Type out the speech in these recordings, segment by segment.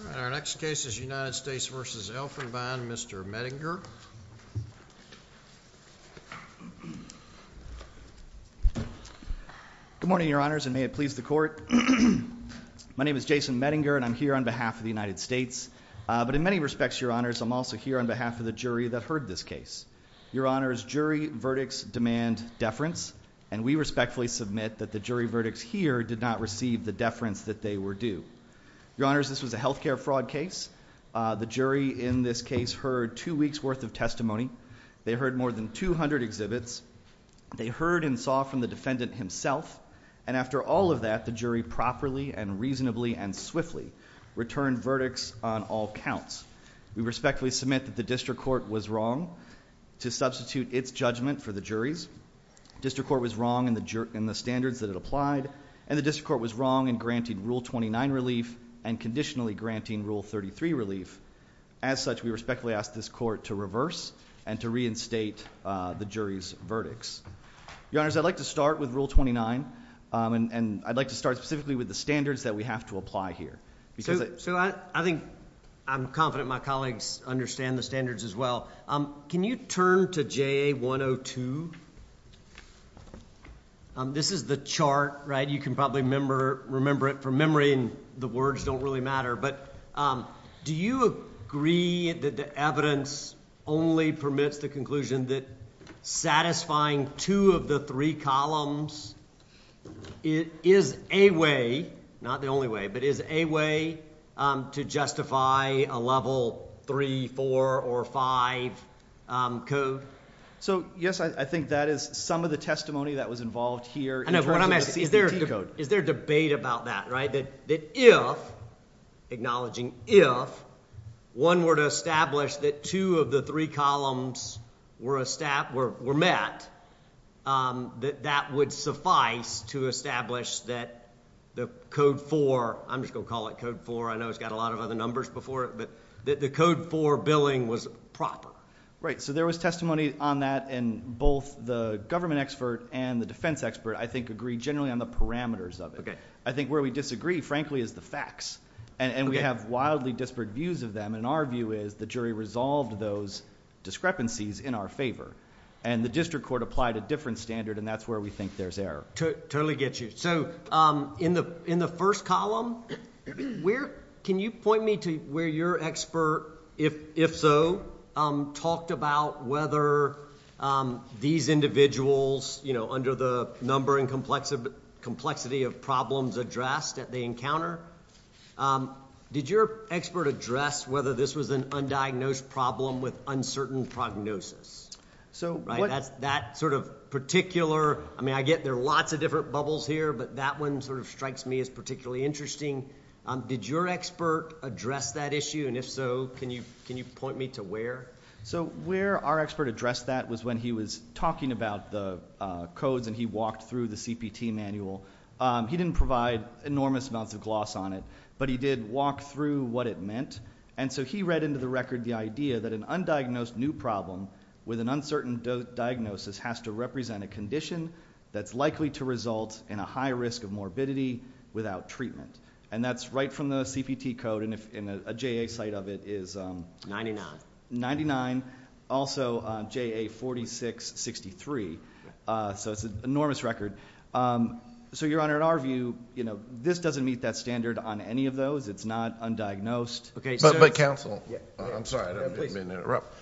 All right, our next case is United States v. Elfenbein, Mr. Mettinger. Good morning, Your Honors, and may it please the Court. My name is Jason Mettinger, and I'm here on behalf of the United States. But in many respects, Your Honors, I'm also here on behalf of the jury that heard this case. Your Honors, jury verdicts demand deference, and we respectfully submit that the jury verdicts here did not receive the deference that they were due. Your Honors, this was a health care fraud case. The jury in this case heard two weeks' worth of testimony. They heard more than 200 exhibits. They heard and saw from the defendant himself. And after all of that, the jury properly and reasonably and swiftly returned verdicts on all counts. We respectfully submit that the district court was wrong to substitute its judgment for the jury's. The district court was wrong in the standards that it applied, and the district court was wrong in granting Rule 29 relief and conditionally granting Rule 33 relief. As such, we respectfully ask this Court to reverse and to reinstate the jury's verdicts. Your Honors, I'd like to start with Rule 29, and I'd like to start specifically with the standards that we have to apply here. So I think I'm confident my colleagues understand the standards as well. Can you turn to JA 102? This is the chart, right? You can probably remember it from memory, and the words don't really matter. But do you agree that the evidence only permits the conclusion that satisfying two of the three columns is a way, not the only way, but is a way to justify a Level 3, 4, or 5 code? So, yes, I think that is some of the testimony that was involved here. I know, but what I'm asking, is there a debate about that, right? That if, acknowledging if, one were to establish that two of the three columns were met, that that would suffice to establish that the Code 4, I'm just going to call it Code 4, I know it's got a lot of other numbers before it, but that the Code 4 billing was proper. Right, so there was testimony on that, and both the government expert and the defense expert, I think, agree generally on the parameters of it. I think where we disagree, frankly, is the facts. And we have wildly disparate views of them, and our view is the jury resolved those discrepancies in our favor. And the district court applied a different standard, and that's where we think there's error. Totally get you. So, in the first column, where... can you point me to where your expert, if so, talked about whether these individuals, under the number and complexity of problems addressed that they encounter? Did your expert address whether this was an undiagnosed problem with uncertain prognosis? Right, that sort of particular... I mean, I get there are lots of different bubbles here, but that one sort of strikes me as particularly interesting. Did your expert address that issue, and if so, can you point me to where? So, where our expert addressed that was when he was talking about the codes, and he walked through the CPT manual. He didn't provide enormous amounts of gloss on it, but he did walk through what it meant. And so, he read into the record the idea that an undiagnosed new problem with an uncertain diagnosis has to represent a condition that's likely to result in a high risk of morbidity without treatment. And that's right from the CPT code, and a JA site of it is... Ninety-nine. Also, JA 4663. So, it's an enormous record. So, Your Honor, in our view, this doesn't meet that standard on any of those. It's not undiagnosed. But, Counsel, I'm sorry, I didn't mean to interrupt.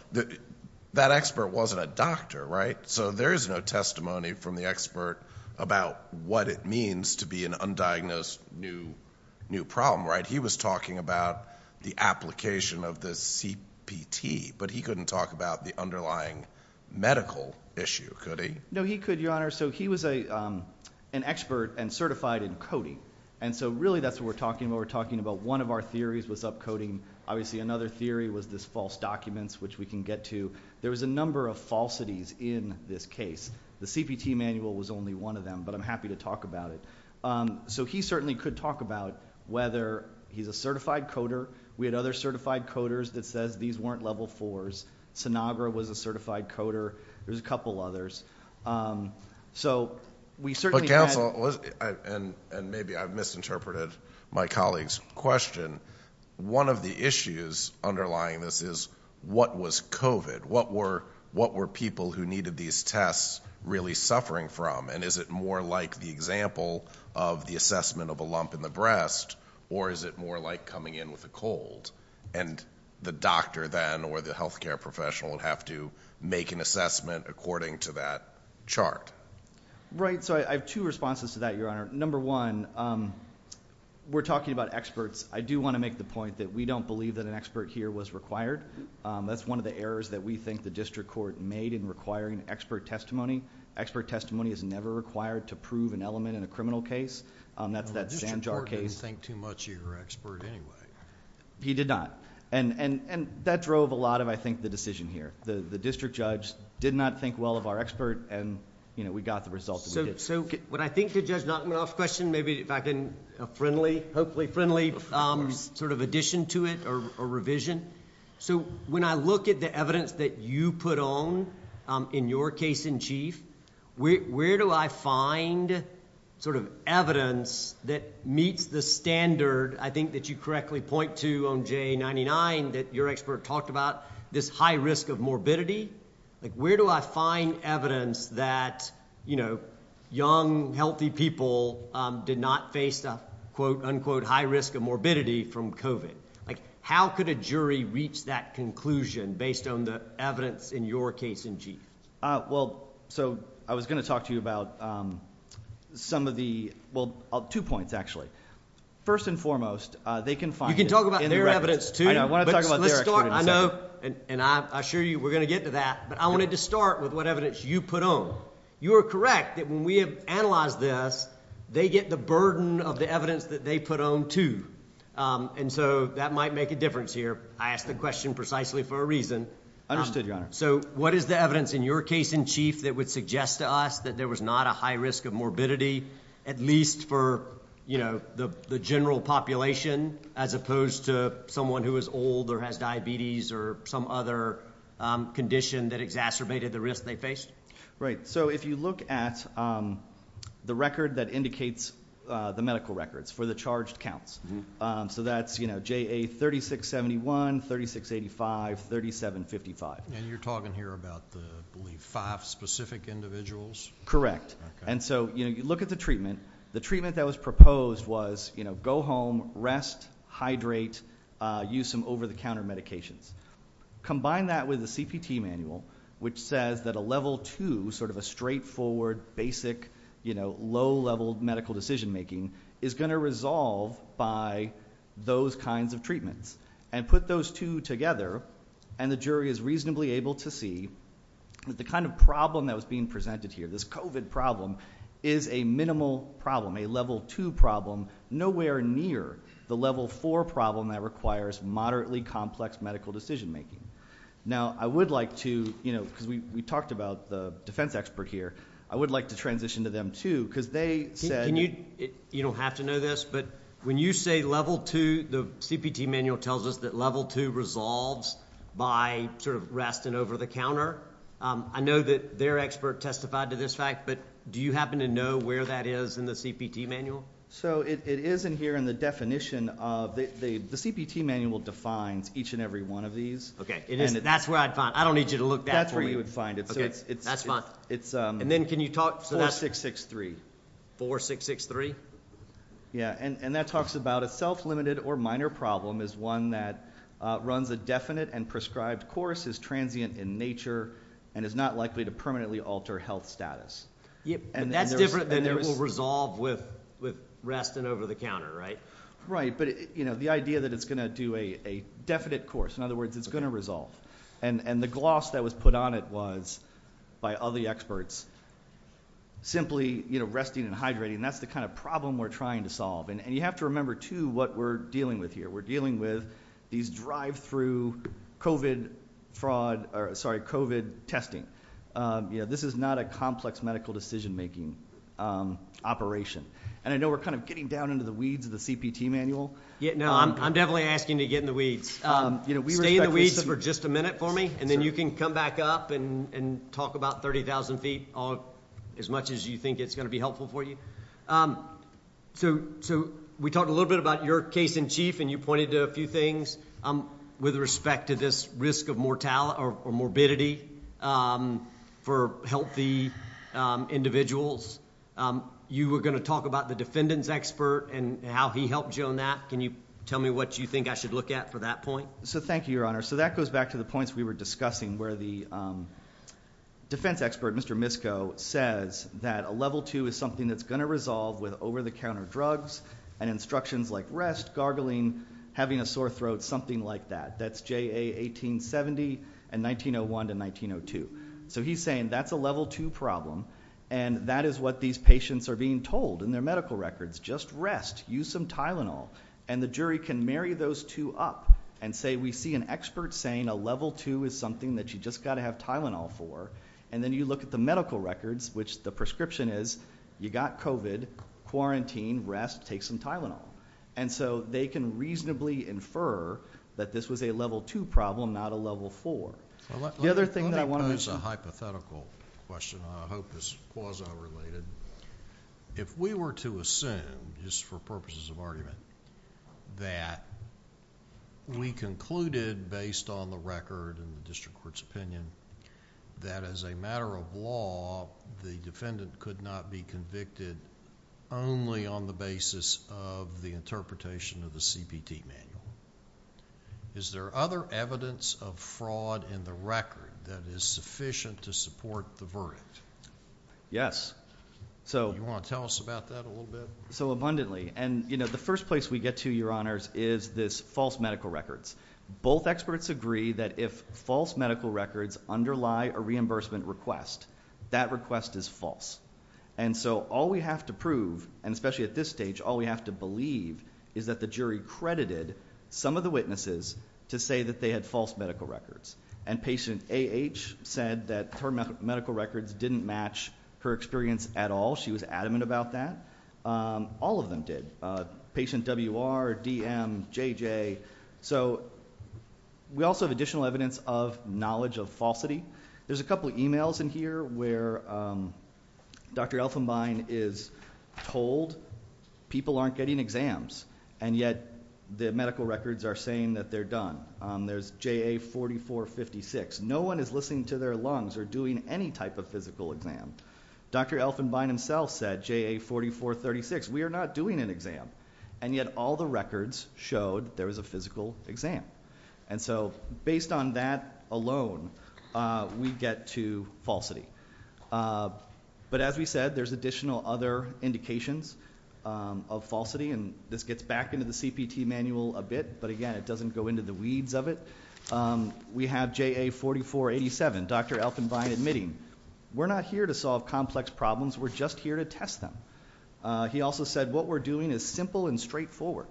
That expert wasn't a doctor, right? So, there is no testimony from the expert about what it means to be an undiagnosed new problem, right? He was talking about the application of the CPT, but he couldn't talk about the underlying medical issue, could he? No, he could, Your Honor. So, he was an expert and certified in coding. And so, really, that's what we're talking about. We're talking about one of our theories was upcoding. Obviously, another theory was this false documents, which we can get to. There was a number of falsities in this case. The CPT manual was only one of them, but I'm happy to talk about it. So, he certainly could talk about whether he's a certified coder. We had other certified coders that says these weren't Level 4s. Sinagra was a certified coder. There was a couple others. But, Counsel, and maybe I've misinterpreted my colleague's question, one of the issues underlying this is what was COVID? What were people who needed these tests really suffering from? And is it more like the example of the assessment of a lump in the breast, or is it more like coming in with a cold? And the doctor then, or the healthcare professional, would have to make an assessment according to that chart. Right. So, I have two responses to that, Your Honor. Number one, we're talking about experts. I do want to make the point that we don't believe that an expert here was required. That's one of the errors that we think the district court made in requiring expert testimony. Expert testimony is never required to prove an element in a criminal case. That's that Zanjar case... The district court didn't think too much of your expert anyway. He did not. And that drove a lot of, I think, the decision here. The district judge did not think well of our expert, and we got the results that we did. So, what I think, Judge Notman, I'll ask a question, maybe if I can... friendly, hopefully friendly, sort of addition to it, or revision. So, when I look at the evidence that you put on in your case in chief, where do I find sort of evidence that meets the standard, I think, that you correctly point to on J99 that your expert talked about, this high risk of morbidity? Like, where do I find evidence that, you know, young, healthy people did not face the quote-unquote high risk of morbidity from COVID? Like, how could a jury reach that conclusion based on the evidence in your case in chief? Well, so, I was going to talk to you about some of the... Well, two points, actually. First and foremost, they can find... You can talk about their evidence, too. I know, I want to talk about their experience. And I assure you we're going to get to that, but I wanted to start with what evidence you put on. You are correct that when we have analyzed this, they get the burden of the evidence that they put on, too. And so, that might make a difference here. I asked the question precisely for a reason. Understood, Your Honor. So, what is the evidence in your case in chief that would suggest to us that there was not a high risk of morbidity, at least for, you know, the general population, as opposed to someone who is old or has diabetes or some other condition that exacerbated the risk they faced? Right. So, if you look at the record that indicates the medical records for the charged counts. So, that's, you know, JA 3671, 3685, 3755. And you're talking here about the, I believe, five specific individuals? Correct. And so, you know, you look at the treatment. The treatment that was proposed was, you know, go home, rest, hydrate, use some over-the-counter medications. Combine that with the CPT manual, which says that a level two, sort of a straightforward, basic, you know, low-level medical decision making, is going to resolve by those kinds of treatments. And put those two together, and the jury is reasonably able to see that the kind of problem that was being presented here, this COVID problem, is a minimal problem, a level two problem, nowhere near the level four problem that requires moderately complex medical decision making. Now, I would like to, you know, because we talked about the defense expert here, I would like to transition to them, too, because they said... You don't have to know this, but when you say level two, the CPT manual tells us that level two resolves by sort of rest and over-the-counter. I know that their expert testified to this fact, but do you happen to know where that is in the CPT manual? So it is in here in the definition of... The CPT manual defines each and every one of these. Okay, that's where I'd find it. I don't need you to look back for me. That's where you would find it. That's fine. And then can you talk... 4663. 4663? Yeah, and that talks about a self-limited or minor problem is one that runs a definite and prescribed course, is transient in nature, and is not likely to permanently alter health status. But that's different than it will resolve with rest and over-the-counter, right? Right, but, you know, the idea that it's going to do a definite course. In other words, it's going to resolve. And the gloss that was put on it was, by other experts, simply, you know, resting and hydrating. And that's the kind of problem we're trying to solve. And you have to remember, too, what we're dealing with here. We're dealing with these drive-through COVID testing. You know, this is not a complex medical decision-making operation. And I know we're kind of getting down into the weeds of the CPT manual. Yeah, no, I'm definitely asking you to get in the weeds. Stay in the weeds for just a minute for me, and then you can come back up and talk about 30,000 feet as much as you think it's going to be helpful for you. So we talked a little bit about your case in chief, and you pointed to a few things with respect to this risk of mortality for healthy individuals. You were going to talk about the defendant's expert and how he helped you on that. Can you tell me what you think I should look at for that point? So thank you, Your Honor. So that goes back to the points we were discussing where the defense expert, Mr. Misko, says that a level 2 is something that's going to resolve with over-the-counter drugs and instructions like rest, gargling, having a sore throat, something like that. That's JA 1870 and 1901 to 1902. So he's saying that's a level 2 problem, and that is what these patients are being told in their medical records. Just rest. Use some Tylenol. And the jury can marry those two up and say, I see an expert saying a level 2 is something that you've just got to have Tylenol for. And then you look at the medical records, which the prescription is you've got COVID, quarantine, rest, take some Tylenol. And so they can reasonably infer that this was a level 2 problem, not a level 4. Let me pose a hypothetical question. I hope it's quasi-related. If we were to assume, just for purposes of argument, that we concluded, based on the record and the district court's opinion, that as a matter of law, the defendant could not be convicted only on the basis of the interpretation of the CPT manual, is there other evidence of fraud in the record that is sufficient to support the verdict? Yes. Do you want to tell us about that a little bit? Abundantly. And the first place we get to, Your Honors, is this false medical records. Both experts agree that if false medical records underlie a reimbursement request, that request is false. And so all we have to prove, and especially at this stage, all we have to believe is that the jury credited some of the witnesses to say that they had false medical records. And patient AH said that her medical records didn't match her experience at all. She was adamant about that. All of them did. Patient WR, DM, JJ. So we also have additional evidence of knowledge of falsity. There's a couple of emails in here where Dr. Elfenbein is told people aren't getting exams, and yet the medical records are saying that they're done. There's JA 4456. No one is listening to their lungs or doing any type of physical exam. Dr. Elfenbein himself said, JA 4436, we are not doing an exam, and yet all the records showed there was a physical exam. And so based on that alone, we get to falsity. But as we said, there's additional other indications of falsity, and this gets back into the CPT manual a bit, but again it doesn't go into the weeds of it. We have JA 4487, Dr. Elfenbein admitting, we're not here to solve complex problems. We're just here to test them. He also said, what we're doing is simple and straightforward.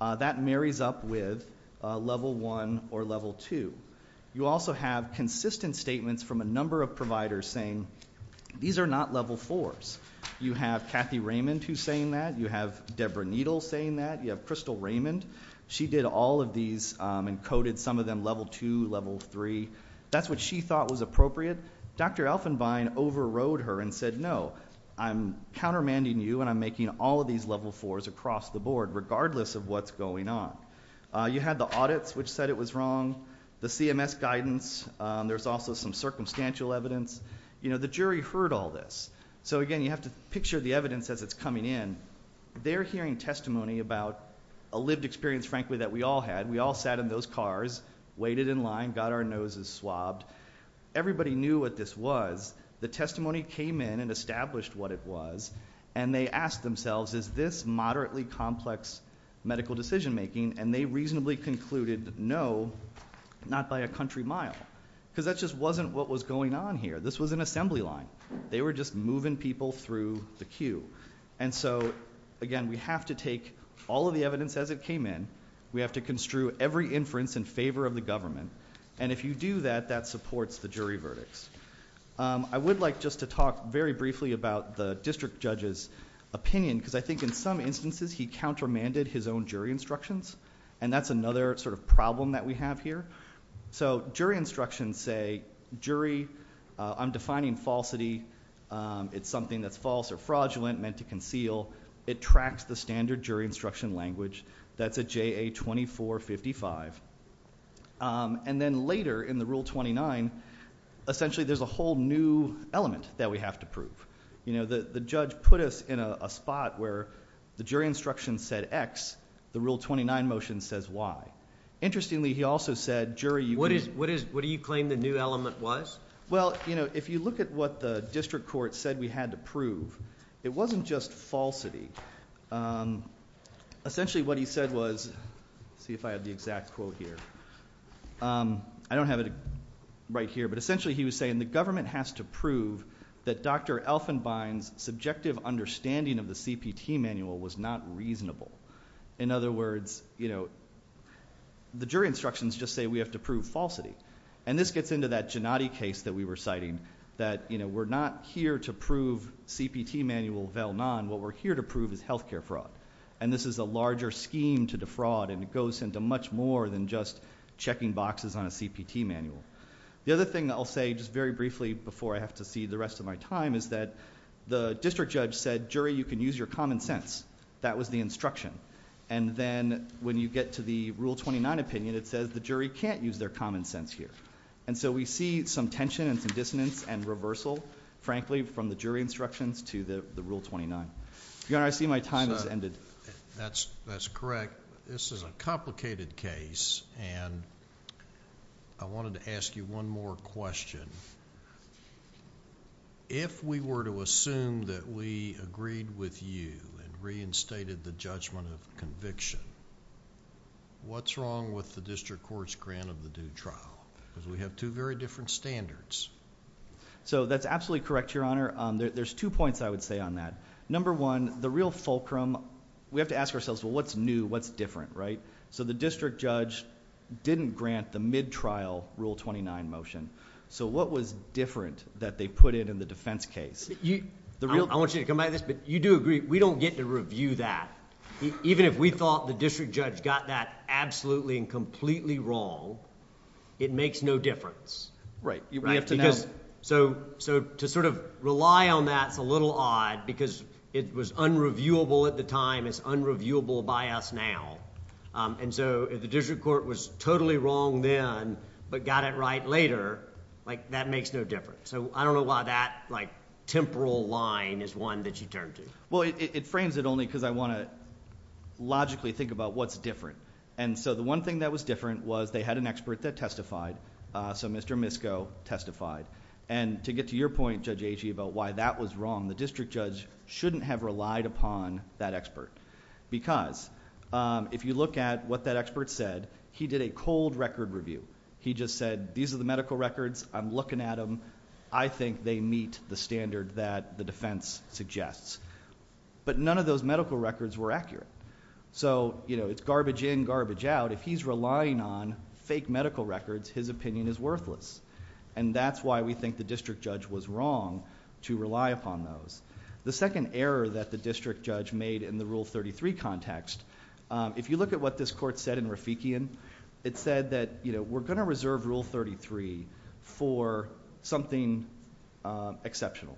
That marries up with level 1 or level 2. You also have consistent statements from a number of providers saying, these are not level 4s. You have Kathy Raymond who's saying that. You have Deborah Needle saying that. You have Crystal Raymond. She did all of these and coded some of them level 2, level 3. That's what she thought was appropriate. Dr. Elfenbein overrode her and said, no, I'm countermanding you and I'm making all of these level 4s across the board, regardless of what's going on. You had the audits which said it was wrong, the CMS guidance. There's also some circumstantial evidence. You know, the jury heard all this. So again, you have to picture the evidence as it's coming in. They're hearing testimony about a lived experience, frankly, that we all had. We all sat in those cars, waited in line, got our noses swabbed. Everybody knew what this was. The testimony came in and established what it was. And they asked themselves, is this moderately complex medical decision making? And they reasonably concluded, no, not by a country mile. Because that just wasn't what was going on here. This was an assembly line. They were just moving people through the queue. And so, again, we have to take all of the evidence as it came in. We have to construe every inference in favor of the government. And if you do that, that supports the jury verdicts. I would like just to talk very briefly about the district judge's opinion. Because I think in some instances he countermanded his own jury instructions. And that's another sort of problem that we have here. So jury instructions say, jury, I'm defining falsity. It's something that's false or fraudulent, meant to conceal. It tracks the standard jury instruction language. That's a JA 2455. And then later in the Rule 29, essentially there's a whole new element that we have to prove. You know, the judge put us in a spot where the jury instruction said X, the Rule 29 motion says Y. Interestingly, he also said, jury, you can't. What do you claim the new element was? Well, you know, if you look at what the district court said we had to prove, it wasn't just falsity. Essentially what he said was, see if I have the exact quote here. I don't have it right here, but essentially he was saying, the government has to prove that Dr. Elfenbein's subjective understanding of the CPT manual was not reasonable. In other words, you know, the jury instructions just say we have to prove falsity. And this gets into that Gennady case that we were citing, that, you know, we're not here to prove CPT manual vel non. What we're here to prove is health care fraud. And this is a larger scheme to defraud, and it goes into much more than just checking boxes on a CPT manual. The other thing I'll say just very briefly before I have to see the rest of my time is that the district judge said, jury, you can use your common sense. That was the instruction. And then when you get to the Rule 29 opinion, it says the jury can't use their common sense here. And so we see some tension and some dissonance and reversal, frankly, from the jury instructions to the Rule 29. Your Honor, I see my time has ended. That's correct. This is a complicated case, and I wanted to ask you one more question. If we were to assume that we agreed with you and reinstated the judgment of conviction, what's wrong with the district court's grant of the due trial? Because we have two very different standards. So that's absolutely correct, Your Honor. There's two points I would say on that. Number one, the real fulcrum, we have to ask ourselves, well, what's new, what's different, right? So the district judge didn't grant the mid-trial Rule 29 motion. So what was different that they put in in the defense case? I want you to come back to this, but you do agree, we don't get to review that. Even if we thought the district judge got that absolutely and completely wrong, it makes no difference. Right. We have to know. So to sort of rely on that is a little odd because it was unreviewable at the time. It's unreviewable by us now. So if the district court was totally wrong then but got it right later, that makes no difference. So I don't know why that temporal line is one that you turn to. Well, it frames it only because I want to logically think about what's different. So the one thing that was different was they had an expert that testified. So Mr. Misko testified. And to get to your point, Judge Agee, about why that was wrong, the district judge shouldn't have relied upon that expert because if you look at what that expert said, he did a cold record review. He just said, these are the medical records. I'm looking at them. I think they meet the standard that the defense suggests. But none of those medical records were accurate. So it's garbage in, garbage out. If he's relying on fake medical records, his opinion is worthless. And that's why we think the district judge was wrong to rely upon those. The second error that the district judge made in the Rule 33 context, if you look at what this court said in Rafikian, it said that we're going to reserve Rule 33 for something exceptional.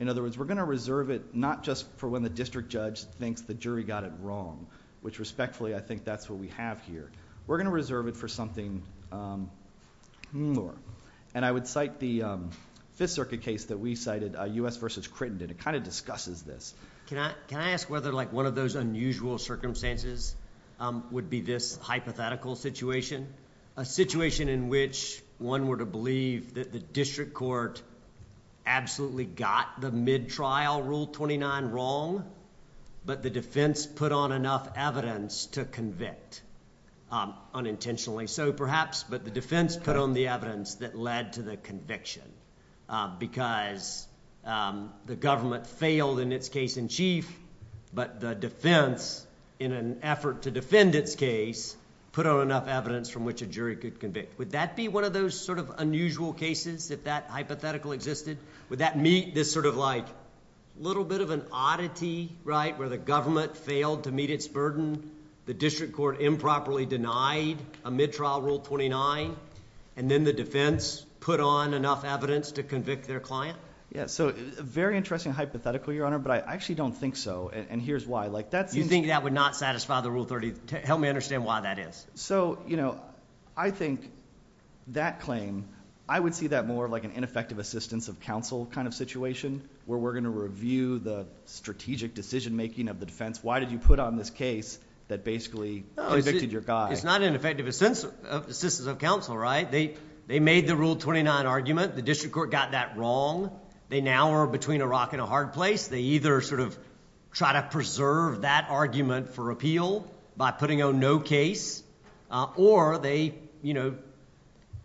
In other words, we're going to reserve it not just for when the district judge thinks the jury got it wrong, which respectfully I think that's what we have here. We're going to reserve it for something more. And I would cite the Fifth Circuit case that we cited, U.S. v. Crittenden. It kind of discusses this. Can I ask whether one of those unusual circumstances would be this hypothetical situation? A situation in which one were to believe that the district court absolutely got the mid-trial Rule 29 wrong, but the defense put on enough evidence to convict, unintentionally. So perhaps, but the defense put on the evidence that led to the conviction because the government failed in its case in chief, but the defense, in an effort to defend its case, put on enough evidence from which a jury could convict. Would that be one of those sort of unusual cases, if that hypothetical existed? Would that meet this sort of like little bit of an oddity, right, where the government failed to meet its burden, the district court improperly denied a mid-trial Rule 29, and then the defense put on enough evidence to convict their client? Yeah, so very interesting hypothetical, Your Honor, but I actually don't think so, and here's why. You think that would not satisfy the Rule 30? Help me understand why that is. So, you know, I think that claim, I would see that more like an ineffective assistance of counsel kind of situation where we're going to review the strategic decision-making of the defense. Why did you put on this case that basically convicted your guy? It's not an ineffective assistance of counsel, right? They made the Rule 29 argument. The district court got that wrong. They now are between a rock and a hard place. They either sort of try to preserve that argument for appeal by putting on no case, or they, you know,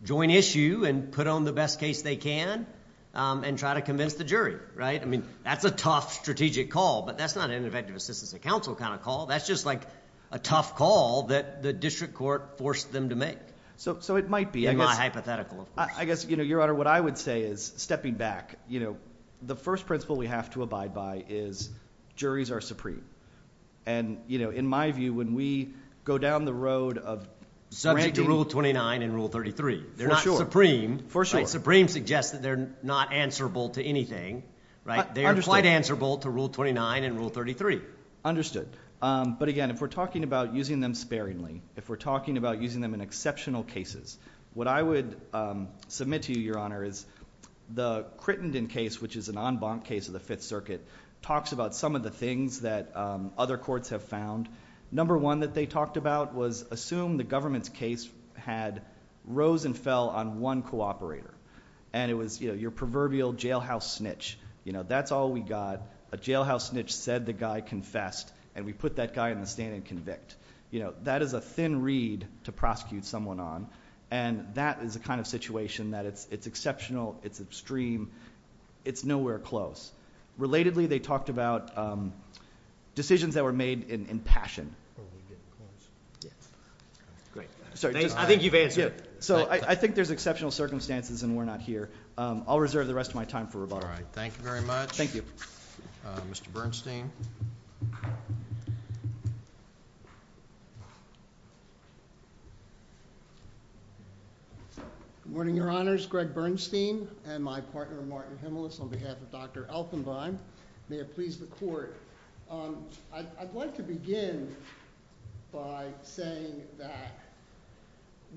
join issue and put on the best case they can and try to convince the jury, right? I mean, that's a tough strategic call, but that's not an ineffective assistance of counsel kind of call. That's just like a tough call that the district court forced them to make. So it might be. In my hypothetical, of course. I guess, you know, Your Honor, what I would say is, stepping back, you know, the first principle we have to abide by is juries are supreme, and, you know, in my view, when we go down the road of subjecting. Subject to Rule 29 and Rule 33. They're not supreme. For sure. Supreme suggests that they're not answerable to anything, right? They're quite answerable to Rule 29 and Rule 33. Understood. But again, if we're talking about using them sparingly, if we're talking about using them in exceptional cases, what I would submit to you, Your Honor, is the Crittenden case, which is an en banc case of the Fifth Circuit, talks about some of the things that other courts have found. Number one that they talked about was assume the government's case had rose and fell on one cooperator. And it was, you know, your proverbial jailhouse snitch. You know, that's all we got. A jailhouse snitch said the guy confessed, and we put that guy in the stand and convict. You know, that is a thin reed to prosecute someone on, and that is the kind of situation that it's exceptional, it's extreme, it's nowhere close. Relatedly, they talked about decisions that were made in passion. Great. I think you've answered it. So I think there's exceptional circumstances, and we're not here. I'll reserve the rest of my time for rebuttal. All right. Thank you very much. Thank you. Mr. Bernstein. Good morning, Your Honors. My name is Greg Bernstein, and my partner Martin Himelis on behalf of Dr. Elfenbein. May it please the Court. I'd like to begin by saying that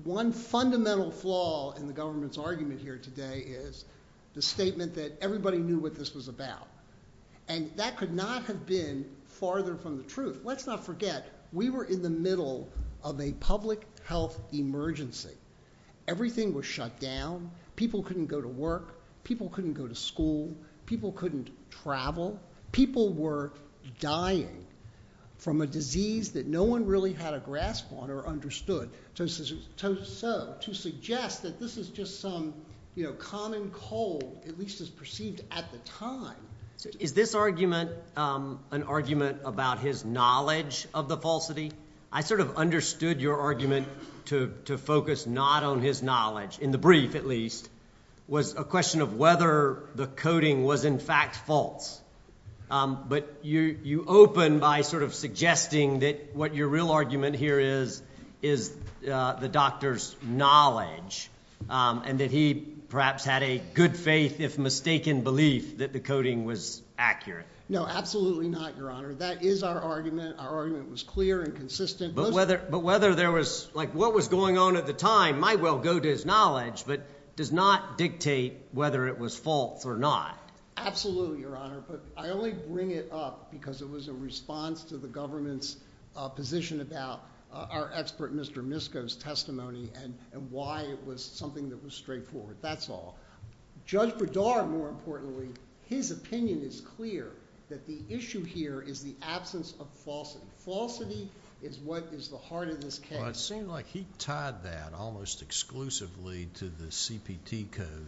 one fundamental flaw in the government's argument here today is the statement that everybody knew what this was about. And that could not have been farther from the truth. Let's not forget, we were in the middle of a public health emergency. Everything was shut down. People couldn't go to work. People couldn't go to school. People couldn't travel. People were dying from a disease that no one really had a grasp on or understood. So to suggest that this is just some common cold, at least as perceived at the time. Is this argument an argument about his knowledge of the falsity? I sort of understood your argument to focus not on his knowledge, in the brief at least, was a question of whether the coding was in fact false. But you open by sort of suggesting that what your real argument here is, is the doctor's knowledge and that he perhaps had a good faith, if mistaken, belief that the coding was accurate. No, absolutely not, Your Honor. That is our argument. Our argument was clear and consistent. But whether there was, like what was going on at the time, might well go to his knowledge, but does not dictate whether it was false or not. Absolutely, Your Honor. But I only bring it up because it was a response to the government's position about our expert, Mr. Misko's testimony and why it was something that was straightforward. That's all. Judge Berdara, more importantly, his opinion is clear that the issue here is the absence of falsity. Falsity is what is the heart of this case. It seems like he tied that almost exclusively to the CPT code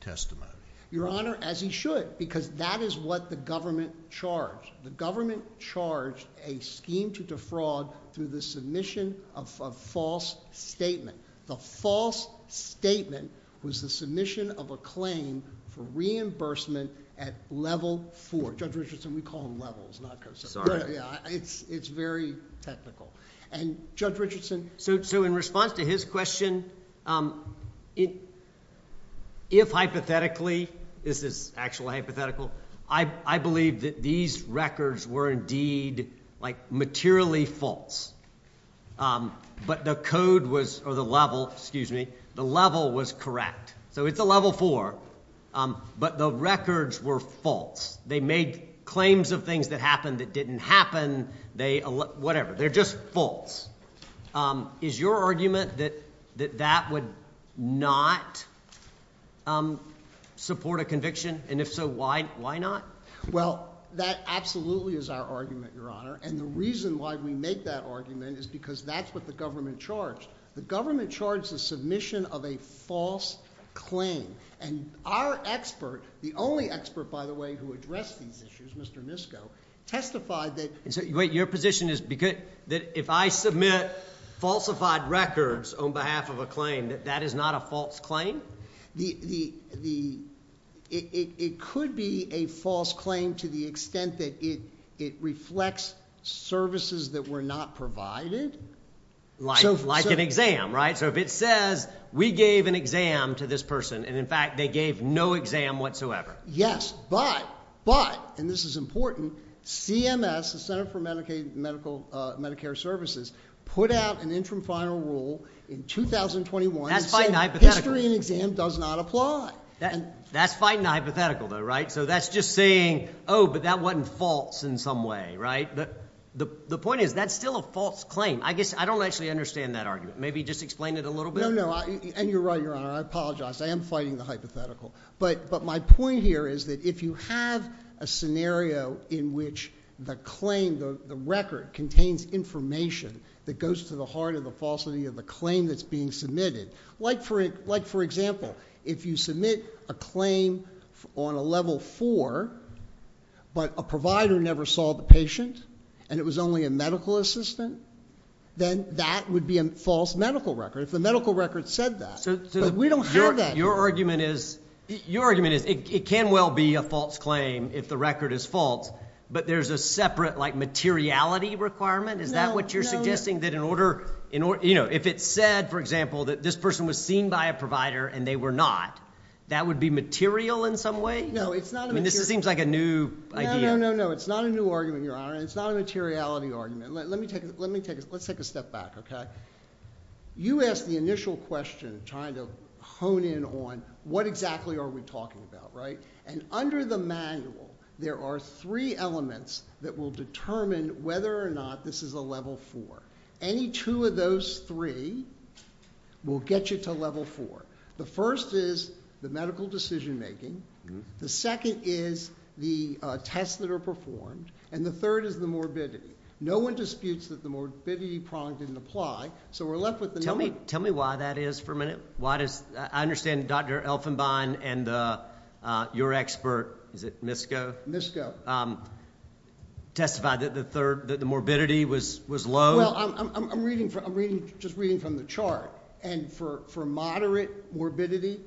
testimony. Your Honor, as he should, because that is what the government charged. The government charged a scheme to defraud through the submission of a false statement. The false statement was the submission of a claim for reimbursement at level four. Judge Richardson, we call them levels. Sorry. It's very technical. Judge Richardson? In response to his question, if hypothetically, this is actually hypothetical, I believe that these records were indeed materially false. But the level was correct. So it's a level four. But the records were false. They made claims of things that happened that didn't happen. Whatever. They're just false. Is your argument that that would not support a conviction? And if so, why not? Well, that absolutely is our argument, Your Honor. And the reason why we make that argument is because that's what the government charged. The government charged the submission of a false claim. And our expert, the only expert, by the way, who addressed these issues, Mr. Misko, testified that if I submit falsified records on behalf of a claim, that that is not a false claim? It could be a false claim to the extent that it reflects services that were not provided. Like an exam, right? So if it says we gave an exam to this person and, in fact, they gave no exam whatsoever. Yes, but, and this is important, CMS, the Center for Medicare Services, put out an interim final rule in 2021. That's fighting a hypothetical. History and exam does not apply. That's fighting a hypothetical, though, right? So that's just saying, oh, but that wasn't false in some way, right? The point is that's still a false claim. I guess I don't actually understand that argument. Maybe just explain it a little bit. No, no, and you're right, Your Honor. I apologize. I am fighting the hypothetical. But my point here is that if you have a scenario in which the claim, the record, contains information that goes to the heart of the falsity of the claim that's being submitted, like, for example, if you submit a claim on a level four, but a provider never saw the patient and it was only a medical assistant, then that would be a false medical record, if the medical record said that. But we don't have that. Your argument is it can well be a false claim if the record is false, but there's a separate, like, materiality requirement? No, no, no. Is that what you're suggesting? That in order, you know, if it said, for example, that this person was seen by a provider and they were not, that would be material in some way? No, it's not a material... I mean, this seems like a new idea. No, no, no, no, it's not a new argument, Your Honor. It's not a materiality argument. Let me take a step back, okay? You asked the initial question, trying to hone in on what exactly are we talking about, right? And under the manual, there are three elements that will determine whether or not this is a level four. Any two of those three will get you to level four. The first is the medical decision-making, the second is the tests that are performed, and the third is the morbidity. No one disputes that the morbidity prong didn't apply, so we're left with the normal. Tell me why that is for a minute. Why does... I understand Dr. Elfenbein and your expert, is it MISCO? MISCO. Testify that the morbidity was low? Well, I'm just reading from the chart, and for moderate morbidity,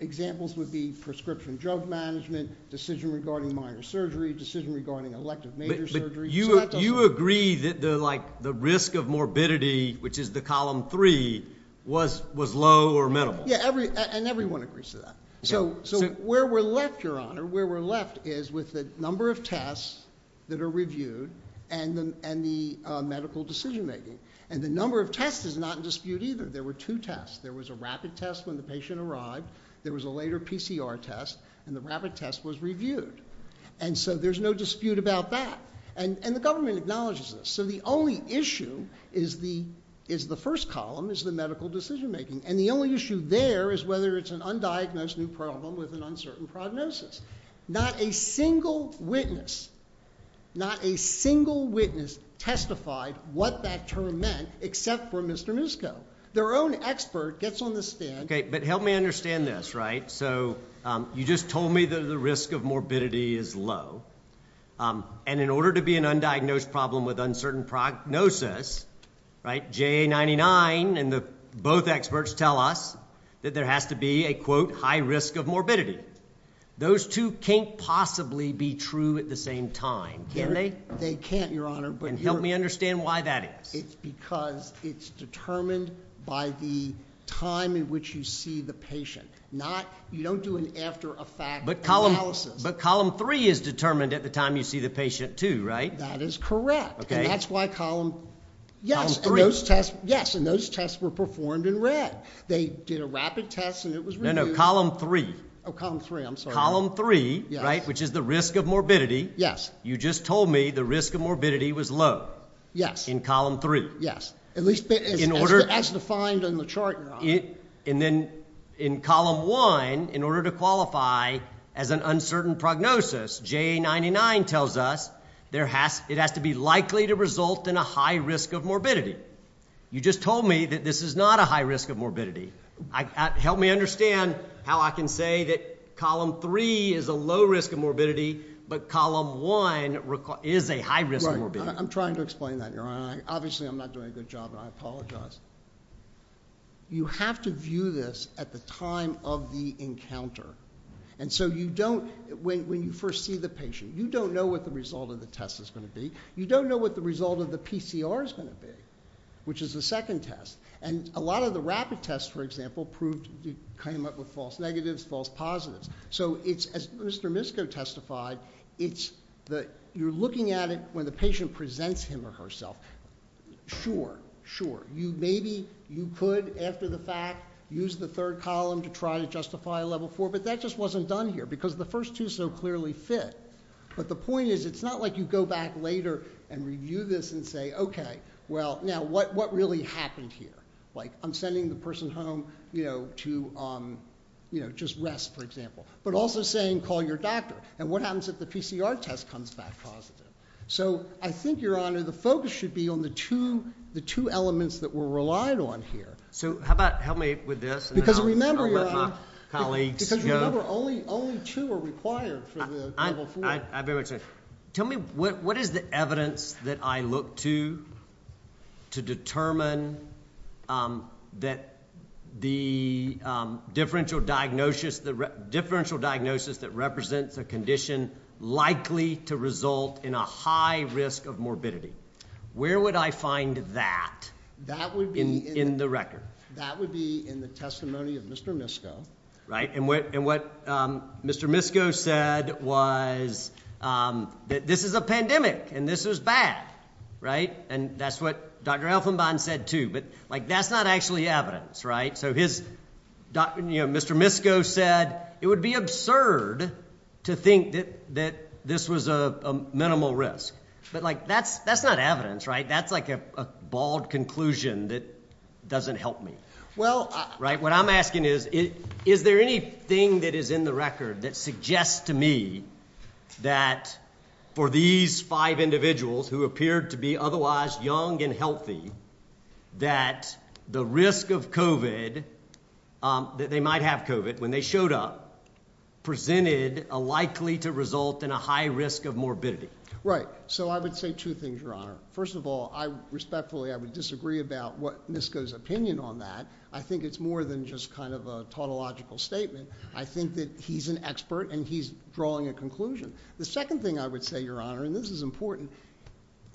examples would be prescription drug management, decision regarding minor surgery, decision regarding elective major surgery. But you agree that the risk of morbidity, which is the column three, was low or minimal? Yeah, and everyone agrees to that. So where we're left, Your Honor, where we're left is with the number of tests that are reviewed and the medical decision-making. And the number of tests is not in dispute either. There were two tests. There was a rapid test when the patient arrived, there was a later PCR test, and the rapid test was reviewed. And so there's no dispute about that. And the government acknowledges this. So the only issue is the first column, is the medical decision-making. And the only issue there is whether it's an undiagnosed new problem with an uncertain prognosis. Not a single witness, not a single witness testified what that term meant except for Mr. Musco. Their own expert gets on the stand. Okay, but help me understand this, right? So you just told me that the risk of morbidity is low, and in order to be an undiagnosed problem with uncertain prognosis, right, JA99 and both experts tell us that there has to be a, quote, high risk of morbidity. Those two can't possibly be true at the same time, can they? They can't, Your Honor. And help me understand why that is. It's because it's determined by the time in which you see the patient. You don't do an after-effect analysis. But column 3 is determined at the time you see the patient too, right? That is correct. And that's why column 3. Yes, and those tests were performed in red. They did a rapid test and it was reviewed. No, no, column 3. Oh, column 3, I'm sorry. Column 3, right, which is the risk of morbidity. Yes. You just told me the risk of morbidity was low. Yes. In column 3. Yes. At least as defined in the chart, Your Honor. And then in column 1, in order to qualify as an uncertain prognosis, JA99 tells us it has to be likely to result in a high risk of morbidity. You just told me that this is not a high risk of morbidity. Help me understand how I can say that column 3 is a low risk of morbidity, but column 1 is a high risk of morbidity. I'm trying to explain that, Your Honor. Obviously I'm not doing a good job and I apologize. You have to view this at the time of the encounter. And so you don't, when you first see the patient, you don't know what the result of the test is going to be. You don't know what the result of the PCR is going to be, which is the second test. And a lot of the rapid tests, for example, came up with false negatives, false positives. So as Mr. Misko testified, you're looking at it when the patient presents him or herself. Sure, sure. Maybe you could, after the fact, use the third column to try to justify a level 4, but that just wasn't done here because the first two so clearly fit. But the point is it's not like you go back later and review this and say, okay, well, now what really happened here? Like I'm sending the person home to just rest, for example, but also saying call your doctor. And what happens if the PCR test comes back positive? So I think, Your Honor, the focus should be on the two elements that we're relied on here. So how about help me with this? Because remember only two are required for the level 4 test. Tell me what is the evidence that I look to to determine that the differential diagnosis that represents a condition likely to result in a high risk of morbidity, where would I find that in the record? That would be in the testimony of Mr. Misko. Right. And what Mr. Misko said was that this is a pandemic and this is bad, right? And that's what Dr. Elfenbahn said, too. But, like, that's not actually evidence, right? So Mr. Misko said it would be absurd to think that this was a minimal risk. But, like, that's not evidence, right? That's like a bald conclusion that doesn't help me. What I'm asking is, is there anything that is in the record that suggests to me that for these five individuals who appeared to be otherwise young and healthy, that the risk of COVID, that they might have COVID when they showed up, presented a likely to result in a high risk of morbidity? Right. So I would say two things, Your Honor. First of all, respectfully, I would disagree about what Misko's opinion on that. I think it's more than just kind of a tautological statement. I think that he's an expert and he's drawing a conclusion. The second thing I would say, Your Honor, and this is important,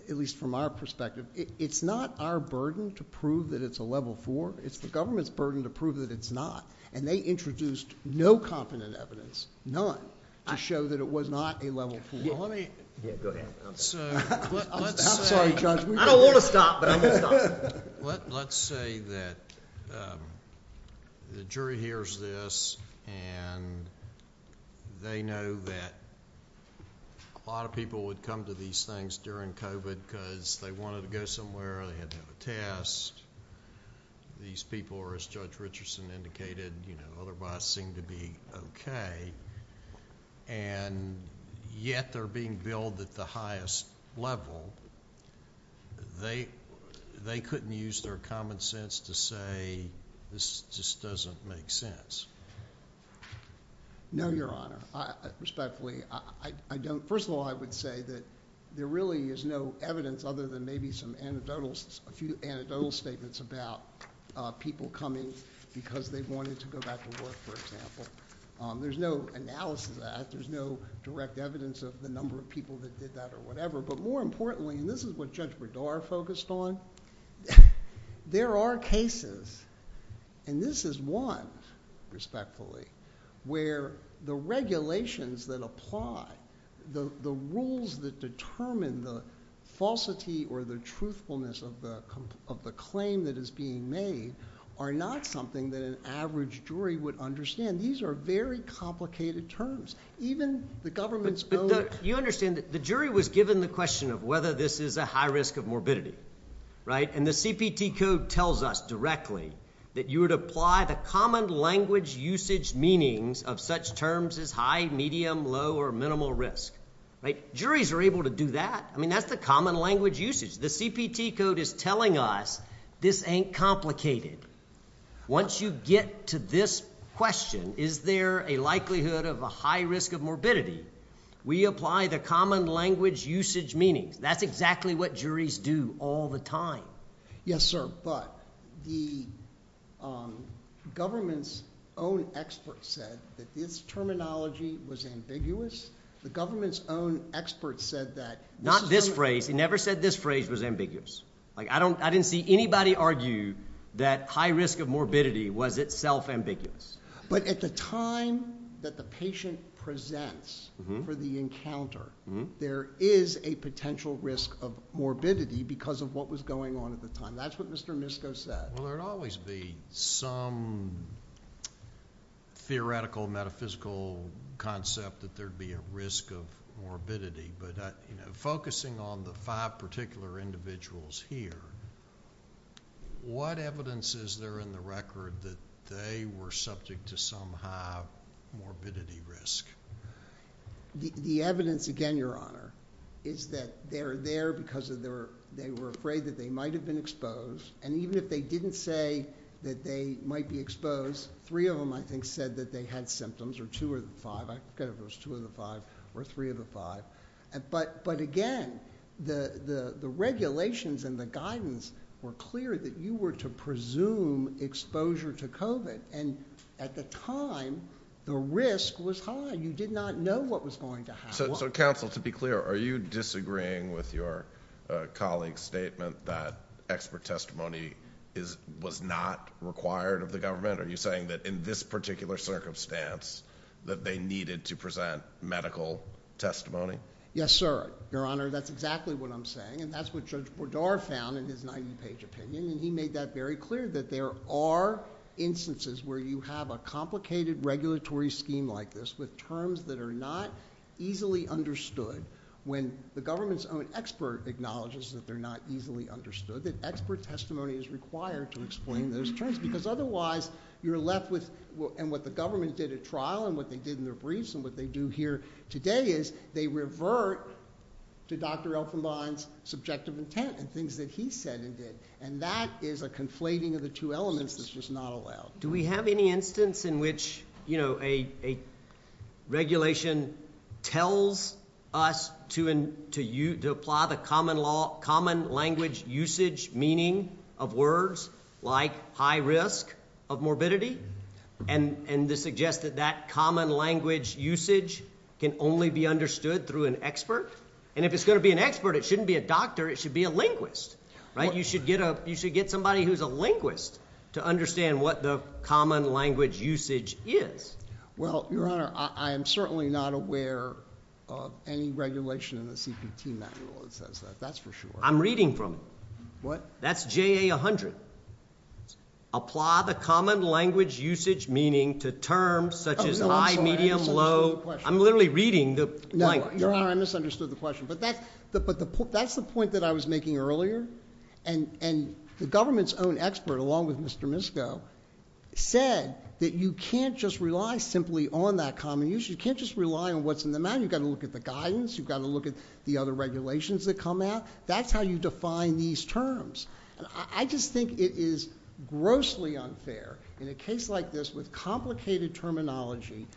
at least from our perspective, it's not our burden to prove that it's a level four. It's the government's burden to prove that it's not. And they introduced no competent evidence, none, to show that it was not a level four. Go ahead. I'm sorry, Judge. I don't want to stop, but I'm going to stop. Let's say that the jury hears this and they know that a lot of people would come to these things during COVID because they wanted to go somewhere, they had to have a test. These people are, as Judge Richardson indicated, otherwise seem to be okay. And yet they're being billed at the highest level. They couldn't use their common sense to say this just doesn't make sense. No, Your Honor. Respectfully, I don't. First of all, I would say that there really is no evidence other than maybe some anecdotal, a few anecdotal statements about people coming because they wanted to go back to work, for example. There's no analysis of that. There's no direct evidence of the number of people that did that or whatever. But more importantly, and this is what Judge Berdara focused on, there are cases, and this is one, respectfully, where the regulations that apply, the rules that determine the falsity or the truthfulness of the claim that is being made, are not something that an average jury would understand. These are very complicated terms. Even the government's own. You understand that the jury was given the question of whether this is a high risk of morbidity, right? And the CPT code tells us directly that you would apply the common language usage meanings of such terms as high, medium, low, or minimal risk. Juries are able to do that. I mean, that's the common language usage. The CPT code is telling us this ain't complicated. Once you get to this question, is there a likelihood of a high risk of morbidity, we apply the common language usage meanings. That's exactly what juries do all the time. Yes, sir, but the government's own expert said that this terminology was ambiguous. The government's own expert said that. Not this phrase. He never said this phrase was ambiguous. I didn't see anybody argue that high risk of morbidity was itself ambiguous. But at the time that the patient presents for the encounter, there is a potential risk of morbidity because of what was going on at the time. That's what Mr. Misko said. Well, there would always be some theoretical, metaphysical concept that there would be a risk of morbidity. Focusing on the five particular individuals here, what evidence is there in the record that they were subject to some high morbidity risk? The evidence, again, Your Honor, is that they're there because they were afraid that they might have been exposed. And even if they didn't say that they might be exposed, three of them, I think, said that they had symptoms, or two of the five. I forget if it was two of the five or three of the five. But, again, the regulations and the guidance were clear that you were to presume exposure to COVID. And at the time, the risk was high. You did not know what was going to happen. So, counsel, to be clear, are you disagreeing with your colleague's statement that expert testimony was not required of the government? Are you saying that in this particular circumstance, that they needed to present medical testimony? Yes, sir. Your Honor, that's exactly what I'm saying. And that's what Judge Bourdard found in his 90-page opinion. And he made that very clear, that there are instances where you have a complicated regulatory scheme like this with terms that are not easily understood. When the government's own expert acknowledges that they're not easily understood, that expert testimony is required to explain those terms. Because, otherwise, you're left with what the government did at trial and what they did in their briefs and what they do here today is they revert to Dr. Elfenbein's subjective intent and things that he said and did. And that is a conflating of the two elements that's just not allowed. Do we have any instance in which, you know, a regulation tells us to apply the common language usage meaning of words like high risk of morbidity and suggests that that common language usage can only be understood through an expert? And if it's going to be an expert, it shouldn't be a doctor. It should be a linguist, right? You should get somebody who's a linguist to understand what the common language usage is. Well, Your Honor, I am certainly not aware of any regulation in the CPT manual that says that. That's for sure. I'm reading from it. What? That's JA 100. Apply the common language usage meaning to terms such as high, medium, low. I'm literally reading the blank. Your Honor, I misunderstood the question. But that's the point that I was making earlier. And the government's own expert along with Mr. Misko said that you can't just rely simply on that common use. You can't just rely on what's in the manual. You've got to look at the guidance. You've got to look at the other regulations that come out. That's how you define these terms. And I just think it is grossly unfair in a case like this with complicated terminology,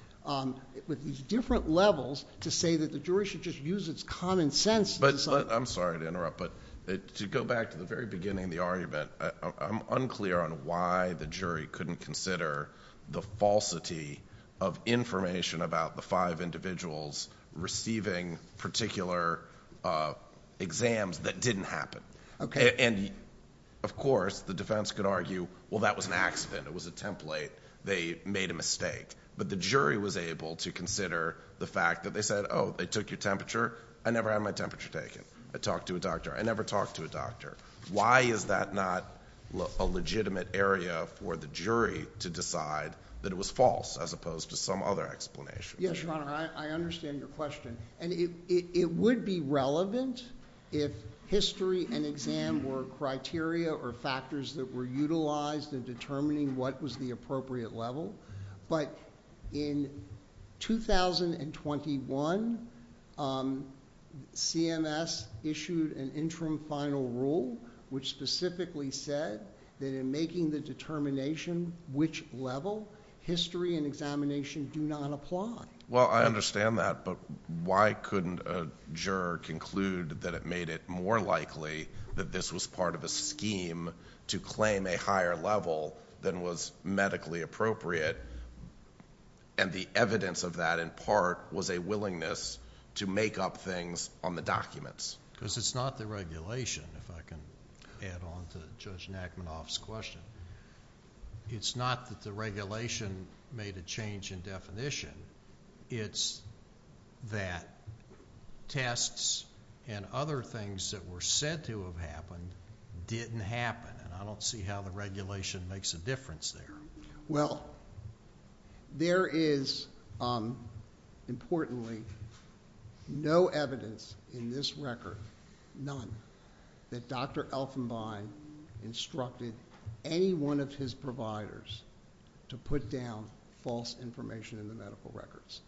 with these different levels to say that the jury should just use its common sense. I'm sorry to interrupt, but to go back to the very beginning of the argument, I'm unclear on why the jury couldn't consider the falsity of information about the five individuals receiving particular exams that didn't happen. Okay. And, of course, the defense could argue, well, that was an accident. It was a template. They made a mistake. But the jury was able to consider the fact that they said, oh, they took your temperature. I never had my temperature taken. I talked to a doctor. I never talked to a doctor. Why is that not a legitimate area for the jury to decide that it was false as opposed to some other explanation? Yes, Your Honor. I understand your question. And it would be relevant if history and exam were criteria or factors that were utilized in determining what was the appropriate level. But in 2021, CMS issued an interim final rule which specifically said that in making the determination which level, history and examination do not apply. Well, I understand that, but why couldn't a juror conclude that it made it more likely that this was part of a scheme to claim a higher level than was medically appropriate? And the evidence of that, in part, was a willingness to make up things on the documents. Because it's not the regulation, if I can add on to Judge Nachmanoff's question. It's not that the regulation made a change in definition. It's that tests and other things that were said to have happened didn't happen. And I don't see how the regulation makes a difference there. Well, there is, importantly, no evidence in this record, none, that Dr. Elfenbein instructed any one of his providers to put down false information in the medical records.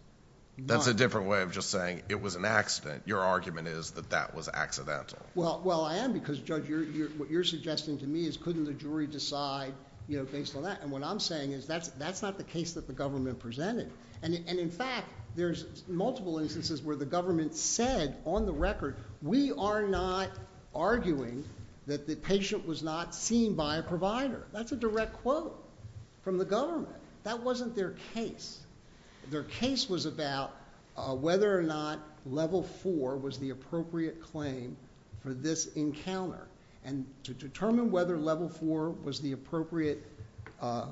That's a different way of just saying it was an accident. Your argument is that that was accidental. Well, I am because, Judge, what you're suggesting to me is couldn't the jury decide based on that? And what I'm saying is that's not the case that the government presented. And, in fact, there's multiple instances where the government said on the record, we are not arguing that the patient was not seen by a provider. That's a direct quote from the government. That wasn't their case. Their case was about whether or not level four was the appropriate claim for this encounter. And to determine whether level four was the appropriate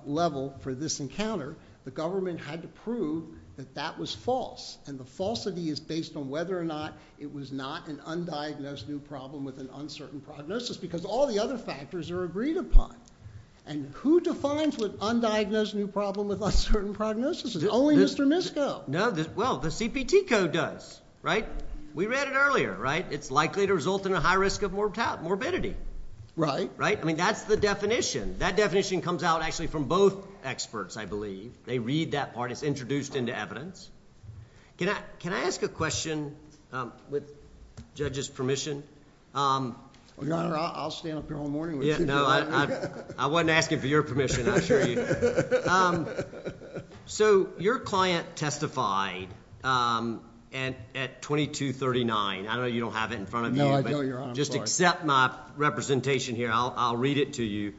level for this encounter, the government had to prove that that was false. And the falsity is based on whether or not it was not an undiagnosed new problem with an uncertain prognosis, because all the other factors are agreed upon. And who defines what undiagnosed new problem with uncertain prognosis is? Only Mr. Misko. No, well, the CPT code does, right? We read it earlier, right? It's likely to result in a high risk of morbidity. Right. Right? I mean, that's the definition. That definition comes out, actually, from both experts, I believe. They read that part. It's introduced into evidence. Can I ask a question with judges' permission? Your Honor, I'll stand up here all morning. No, I wasn't asking for your permission, I assure you. So your client testified at 2239. I know you don't have it in front of you. No, I don't, Your Honor. Just accept my representation here. I'll read it to you.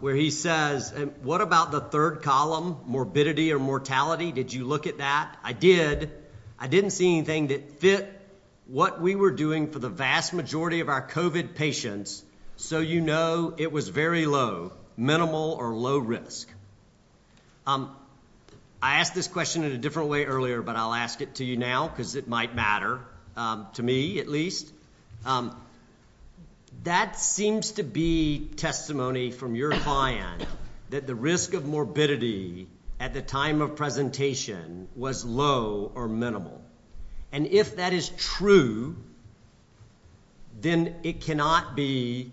Where he says, what about the third column, morbidity or mortality? Did you look at that? I did. I didn't see anything that fit what we were doing for the vast majority of our COVID patients, so you know it was very low, minimal or low risk. I asked this question in a different way earlier, but I'll ask it to you now because it might matter, to me at least. That seems to be testimony from your client that the risk of morbidity at the time of presentation was low or minimal. And if that is true, then it cannot be,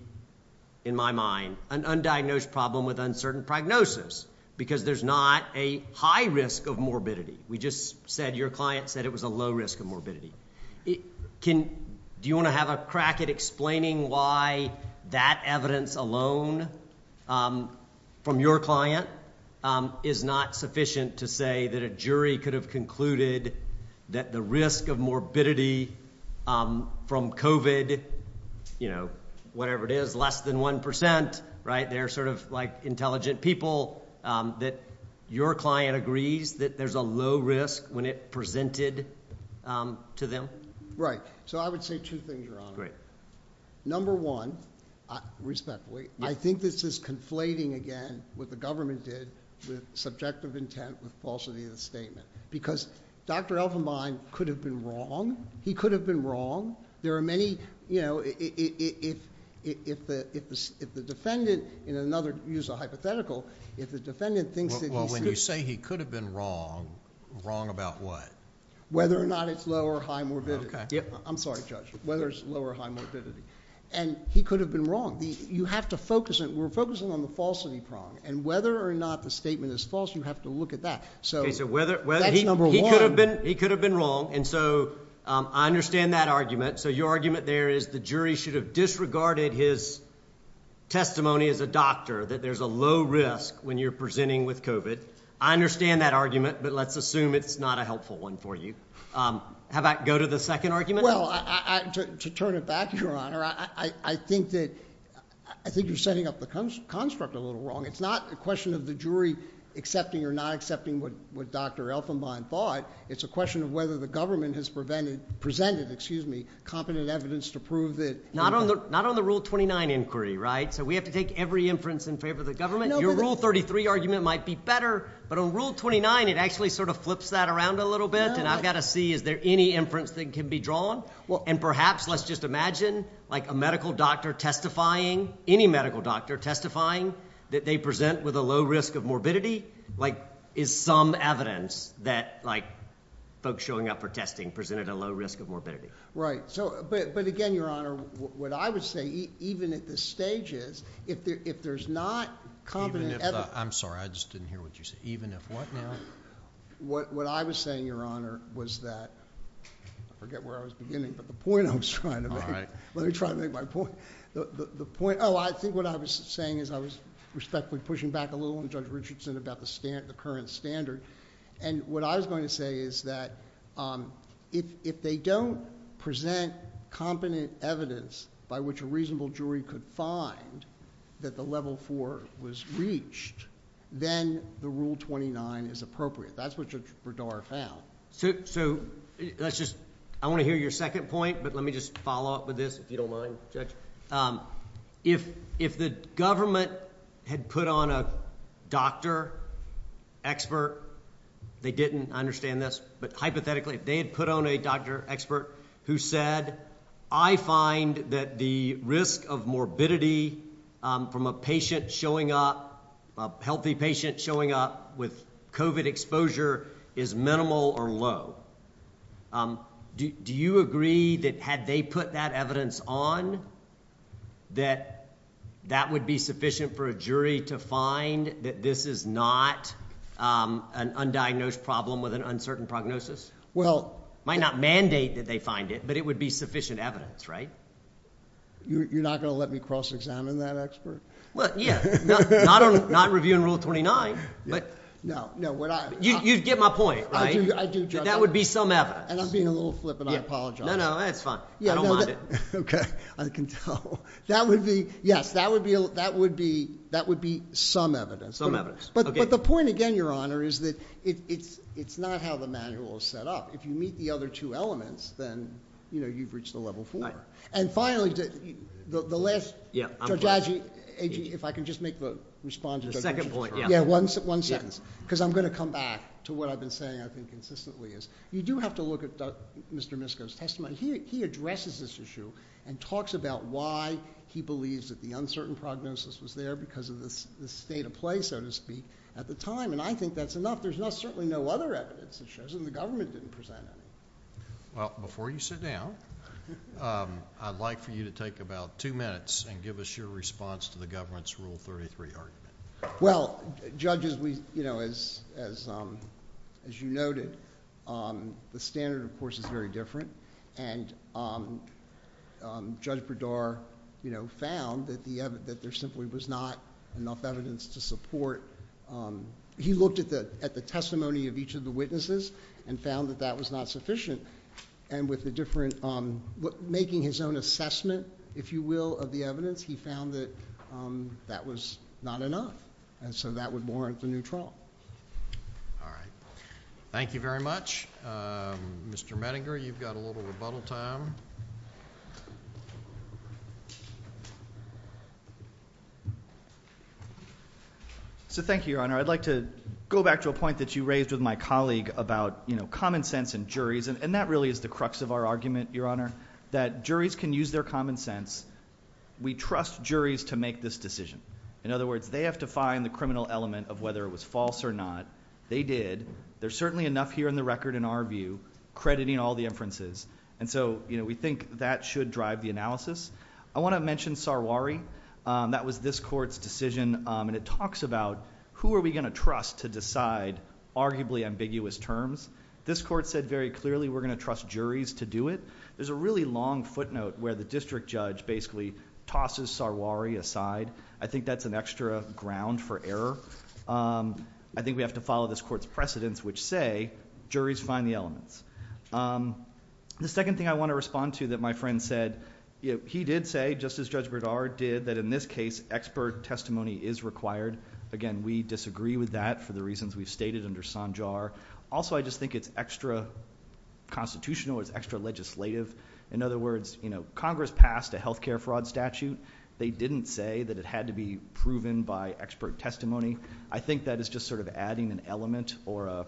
in my mind, an undiagnosed problem with uncertain prognosis because there's not a high risk of morbidity. We just said your client said it was a low risk of morbidity. Do you want to have a crack at explaining why that evidence alone from your client is not sufficient to say that a jury could have concluded that the risk of morbidity from COVID, you know, whatever it is, less than 1%, right, they're sort of like intelligent people, that your client agrees that there's a low risk when it presented to them? Right. So I would say two things, Your Honor. Great. Number one, respectfully, I think this is conflating again what the government did with subjective intent, with falsity of the statement. Because Dr. Elfenbein could have been wrong. He could have been wrong. There are many, you know, if the defendant, in another use of hypothetical, if the defendant thinks that he's Well, when you say he could have been wrong, wrong about what? Whether or not it's low or high morbidity. I'm sorry, Judge. Whether it's low or high morbidity. And he could have been wrong. You have to focus it. We're focusing on the falsity prong. And whether or not the statement is false, you have to look at that. So that's number one. He could have been wrong. And so I understand that argument. So your argument there is the jury should have disregarded his testimony as a doctor, that there's a low risk when you're presenting with COVID. I understand that argument. But let's assume it's not a helpful one for you. How about go to the second argument? Well, to turn it back, Your Honor, I think that you're setting up the construct a little wrong. It's not a question of the jury accepting or not accepting what Dr. Elfenbein thought. It's a question of whether the government has presented competent evidence to prove that Not on the Rule 29 inquiry, right? So we have to take every inference in favor of the government. Your Rule 33 argument might be better. But on Rule 29, it actually sort of flips that around a little bit. And I've got to see, is there any inference that can be drawn? Well, and perhaps let's just imagine, like, a medical doctor testifying, any medical doctor testifying that they present with a low risk of morbidity, like, is some evidence that, like, folks showing up for testing presented a low risk of morbidity. Right. But again, Your Honor, what I would say, even at the stages, if there's not competent evidence I'm sorry. I just didn't hear what you said. Even if what now? What I was saying, Your Honor, was that I forget where I was beginning. But the point I was trying to make. Let me try to make my point. The point, oh, I think what I was saying is I was respectfully pushing back a little on Judge Richardson about the current standard. And what I was going to say is that if they don't present competent evidence by which a reasonable jury could find that the level four was reached, then the Rule 29 is appropriate. That's what Judge Berdara found. So let's just, I want to hear your second point, but let me just follow up with this, if you don't mind, Judge. If the government had put on a doctor expert, they didn't, I understand this, but hypothetically, if they had put on a doctor expert who said, I find that the risk of morbidity from a patient showing up, a healthy patient showing up with COVID exposure is minimal or low. Do you agree that had they put that evidence on, that that would be sufficient for a jury to find that this is not an undiagnosed problem with an uncertain prognosis? Might not mandate that they find it, but it would be sufficient evidence, right? You're not going to let me cross-examine that expert? Well, yeah. Not reviewing Rule 29, but you get my point, right? I do, Judge. That would be some evidence. And I'm being a little flippant. I apologize. No, no, that's fine. I don't mind it. Okay. I can tell. That would be, yes, that would be some evidence. Some evidence. But the point, again, Your Honor, is that it's not how the manual is set up. If you meet the other two elements, then, you know, you've reached the level four. And finally, the last, Judge, if I can just make the response. The second point, yeah. Yeah, one sentence. Because I'm going to come back to what I've been saying, I think, consistently is, you do have to look at Mr. Misko's testimony. He addresses this issue and talks about why he believes that the uncertain prognosis was there because of the state of play, so to speak, at the time. And I think that's enough. There's certainly no other evidence that shows that the government didn't present any. Well, before you sit down, I'd like for you to take about two minutes and give us your response to the government's Rule 33 argument. Well, Judge, as you noted, the standard, of course, is very different. And Judge Bredar, you know, found that there simply was not enough evidence to support. He looked at the testimony of each of the witnesses and found that that was not sufficient. And with the different, making his own assessment, if you will, of the evidence, he found that that was not enough. And so that would warrant a new trial. All right. Thank you very much. Mr. Mettinger, you've got a little rebuttal time. So thank you, Your Honor. I'd like to go back to a point that you raised with my colleague about, you know, common sense and juries. And that really is the crux of our argument, Your Honor, that juries can use their common sense. We trust juries to make this decision. In other words, they have to find the criminal element of whether it was false or not. They did. There's certainly enough here in the record, in our view, crediting all the inferences. And so, you know, we think that should drive the analysis. I want to mention Sarwari. That was this Court's decision. And it talks about who are we going to trust to decide arguably ambiguous terms. This Court said very clearly we're going to trust juries to do it. There's a really long footnote where the district judge basically tosses Sarwari aside. I think that's an extra ground for error. I think we have to follow this Court's precedence, which say juries find the elements. The second thing I want to respond to that my friend said, you know, he did say, just as Judge Bredar did, that in this case expert testimony is required. Again, we disagree with that for the reasons we've stated under Sanjar. Also, I just think it's extra constitutional. It's extra legislative. In other words, you know, Congress passed a health care fraud statute. They didn't say that it had to be proven by expert testimony. I think that is just sort of adding an element or a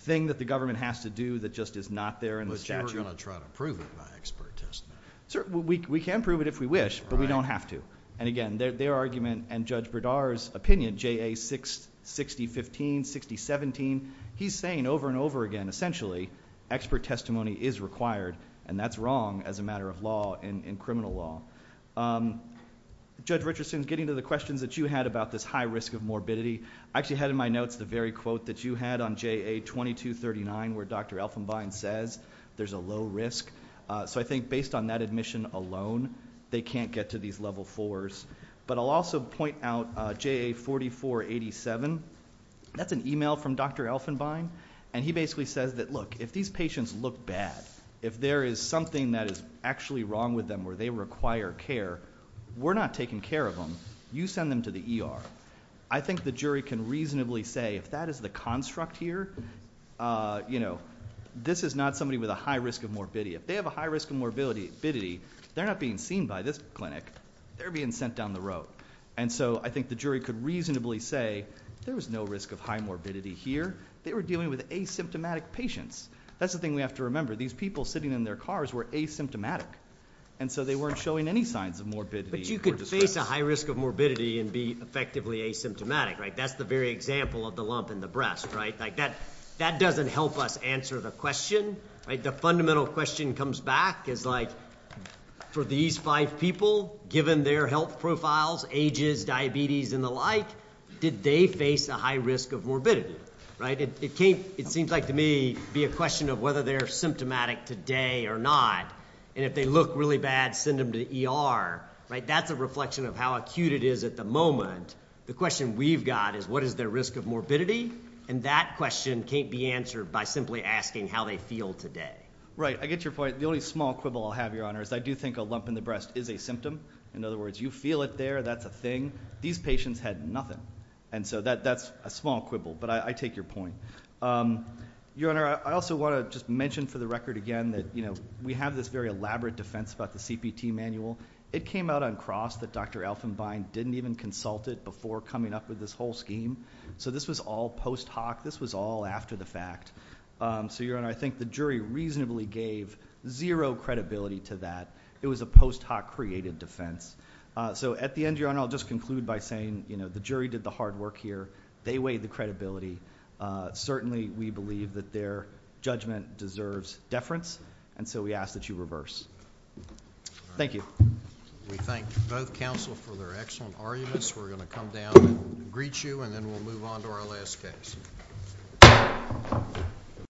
thing that the government has to do that just is not there in the statute. But you were going to try to prove it by expert testimony. We can prove it if we wish, but we don't have to. And again, their argument and Judge Bredar's opinion, JA 6015, 6017, he's saying over and over again, essentially expert testimony is required, and that's wrong as a matter of law in criminal law. Judge Richardson, getting to the questions that you had about this high risk of morbidity, I actually had in my notes the very quote that you had on JA 2239 where Dr. Elfenbein says there's a low risk. So I think based on that admission alone, they can't get to these level fours. But I'll also point out JA 4487. That's an e-mail from Dr. Elfenbein, and he basically says that, look, if these patients look bad, if there is something that is actually wrong with them where they require care, we're not taking care of them. You send them to the ER. I think the jury can reasonably say if that is the construct here, you know, this is not somebody with a high risk of morbidity. If they have a high risk of morbidity, they're not being seen by this clinic. They're being sent down the road. And so I think the jury could reasonably say there was no risk of high morbidity here. They were dealing with asymptomatic patients. That's the thing we have to remember. These people sitting in their cars were asymptomatic, and so they weren't showing any signs of morbidity. But you could face a high risk of morbidity and be effectively asymptomatic, right? That's the very example of the lump in the breast, right? That doesn't help us answer the question. The fundamental question comes back as, like, for these five people, given their health profiles, ages, diabetes, and the like, did they face a high risk of morbidity, right? It can't, it seems like to me, be a question of whether they're symptomatic today or not, and if they look really bad, send them to the ER, right? That's a reflection of how acute it is at the moment. The question we've got is what is their risk of morbidity, and that question can't be answered by simply asking how they feel today. Right, I get your point. The only small quibble I'll have, Your Honor, is I do think a lump in the breast is a symptom. In other words, you feel it there, that's a thing. These patients had nothing, and so that's a small quibble, but I take your point. Your Honor, I also want to just mention for the record again that, you know, we have this very elaborate defense about the CPT manual. It came out uncrossed that Dr. Elfenbein didn't even consult it before coming up with this whole scheme, so this was all post hoc, this was all after the fact. So, Your Honor, I think the jury reasonably gave zero credibility to that. It was a post hoc created defense. So at the end, Your Honor, I'll just conclude by saying, you know, the jury did the hard work here. They weighed the credibility. Certainly we believe that their judgment deserves deference, and so we ask that you reverse. Thank you. We thank both counsel for their excellent arguments. We're going to come down and greet you, and then we'll move on to our last case.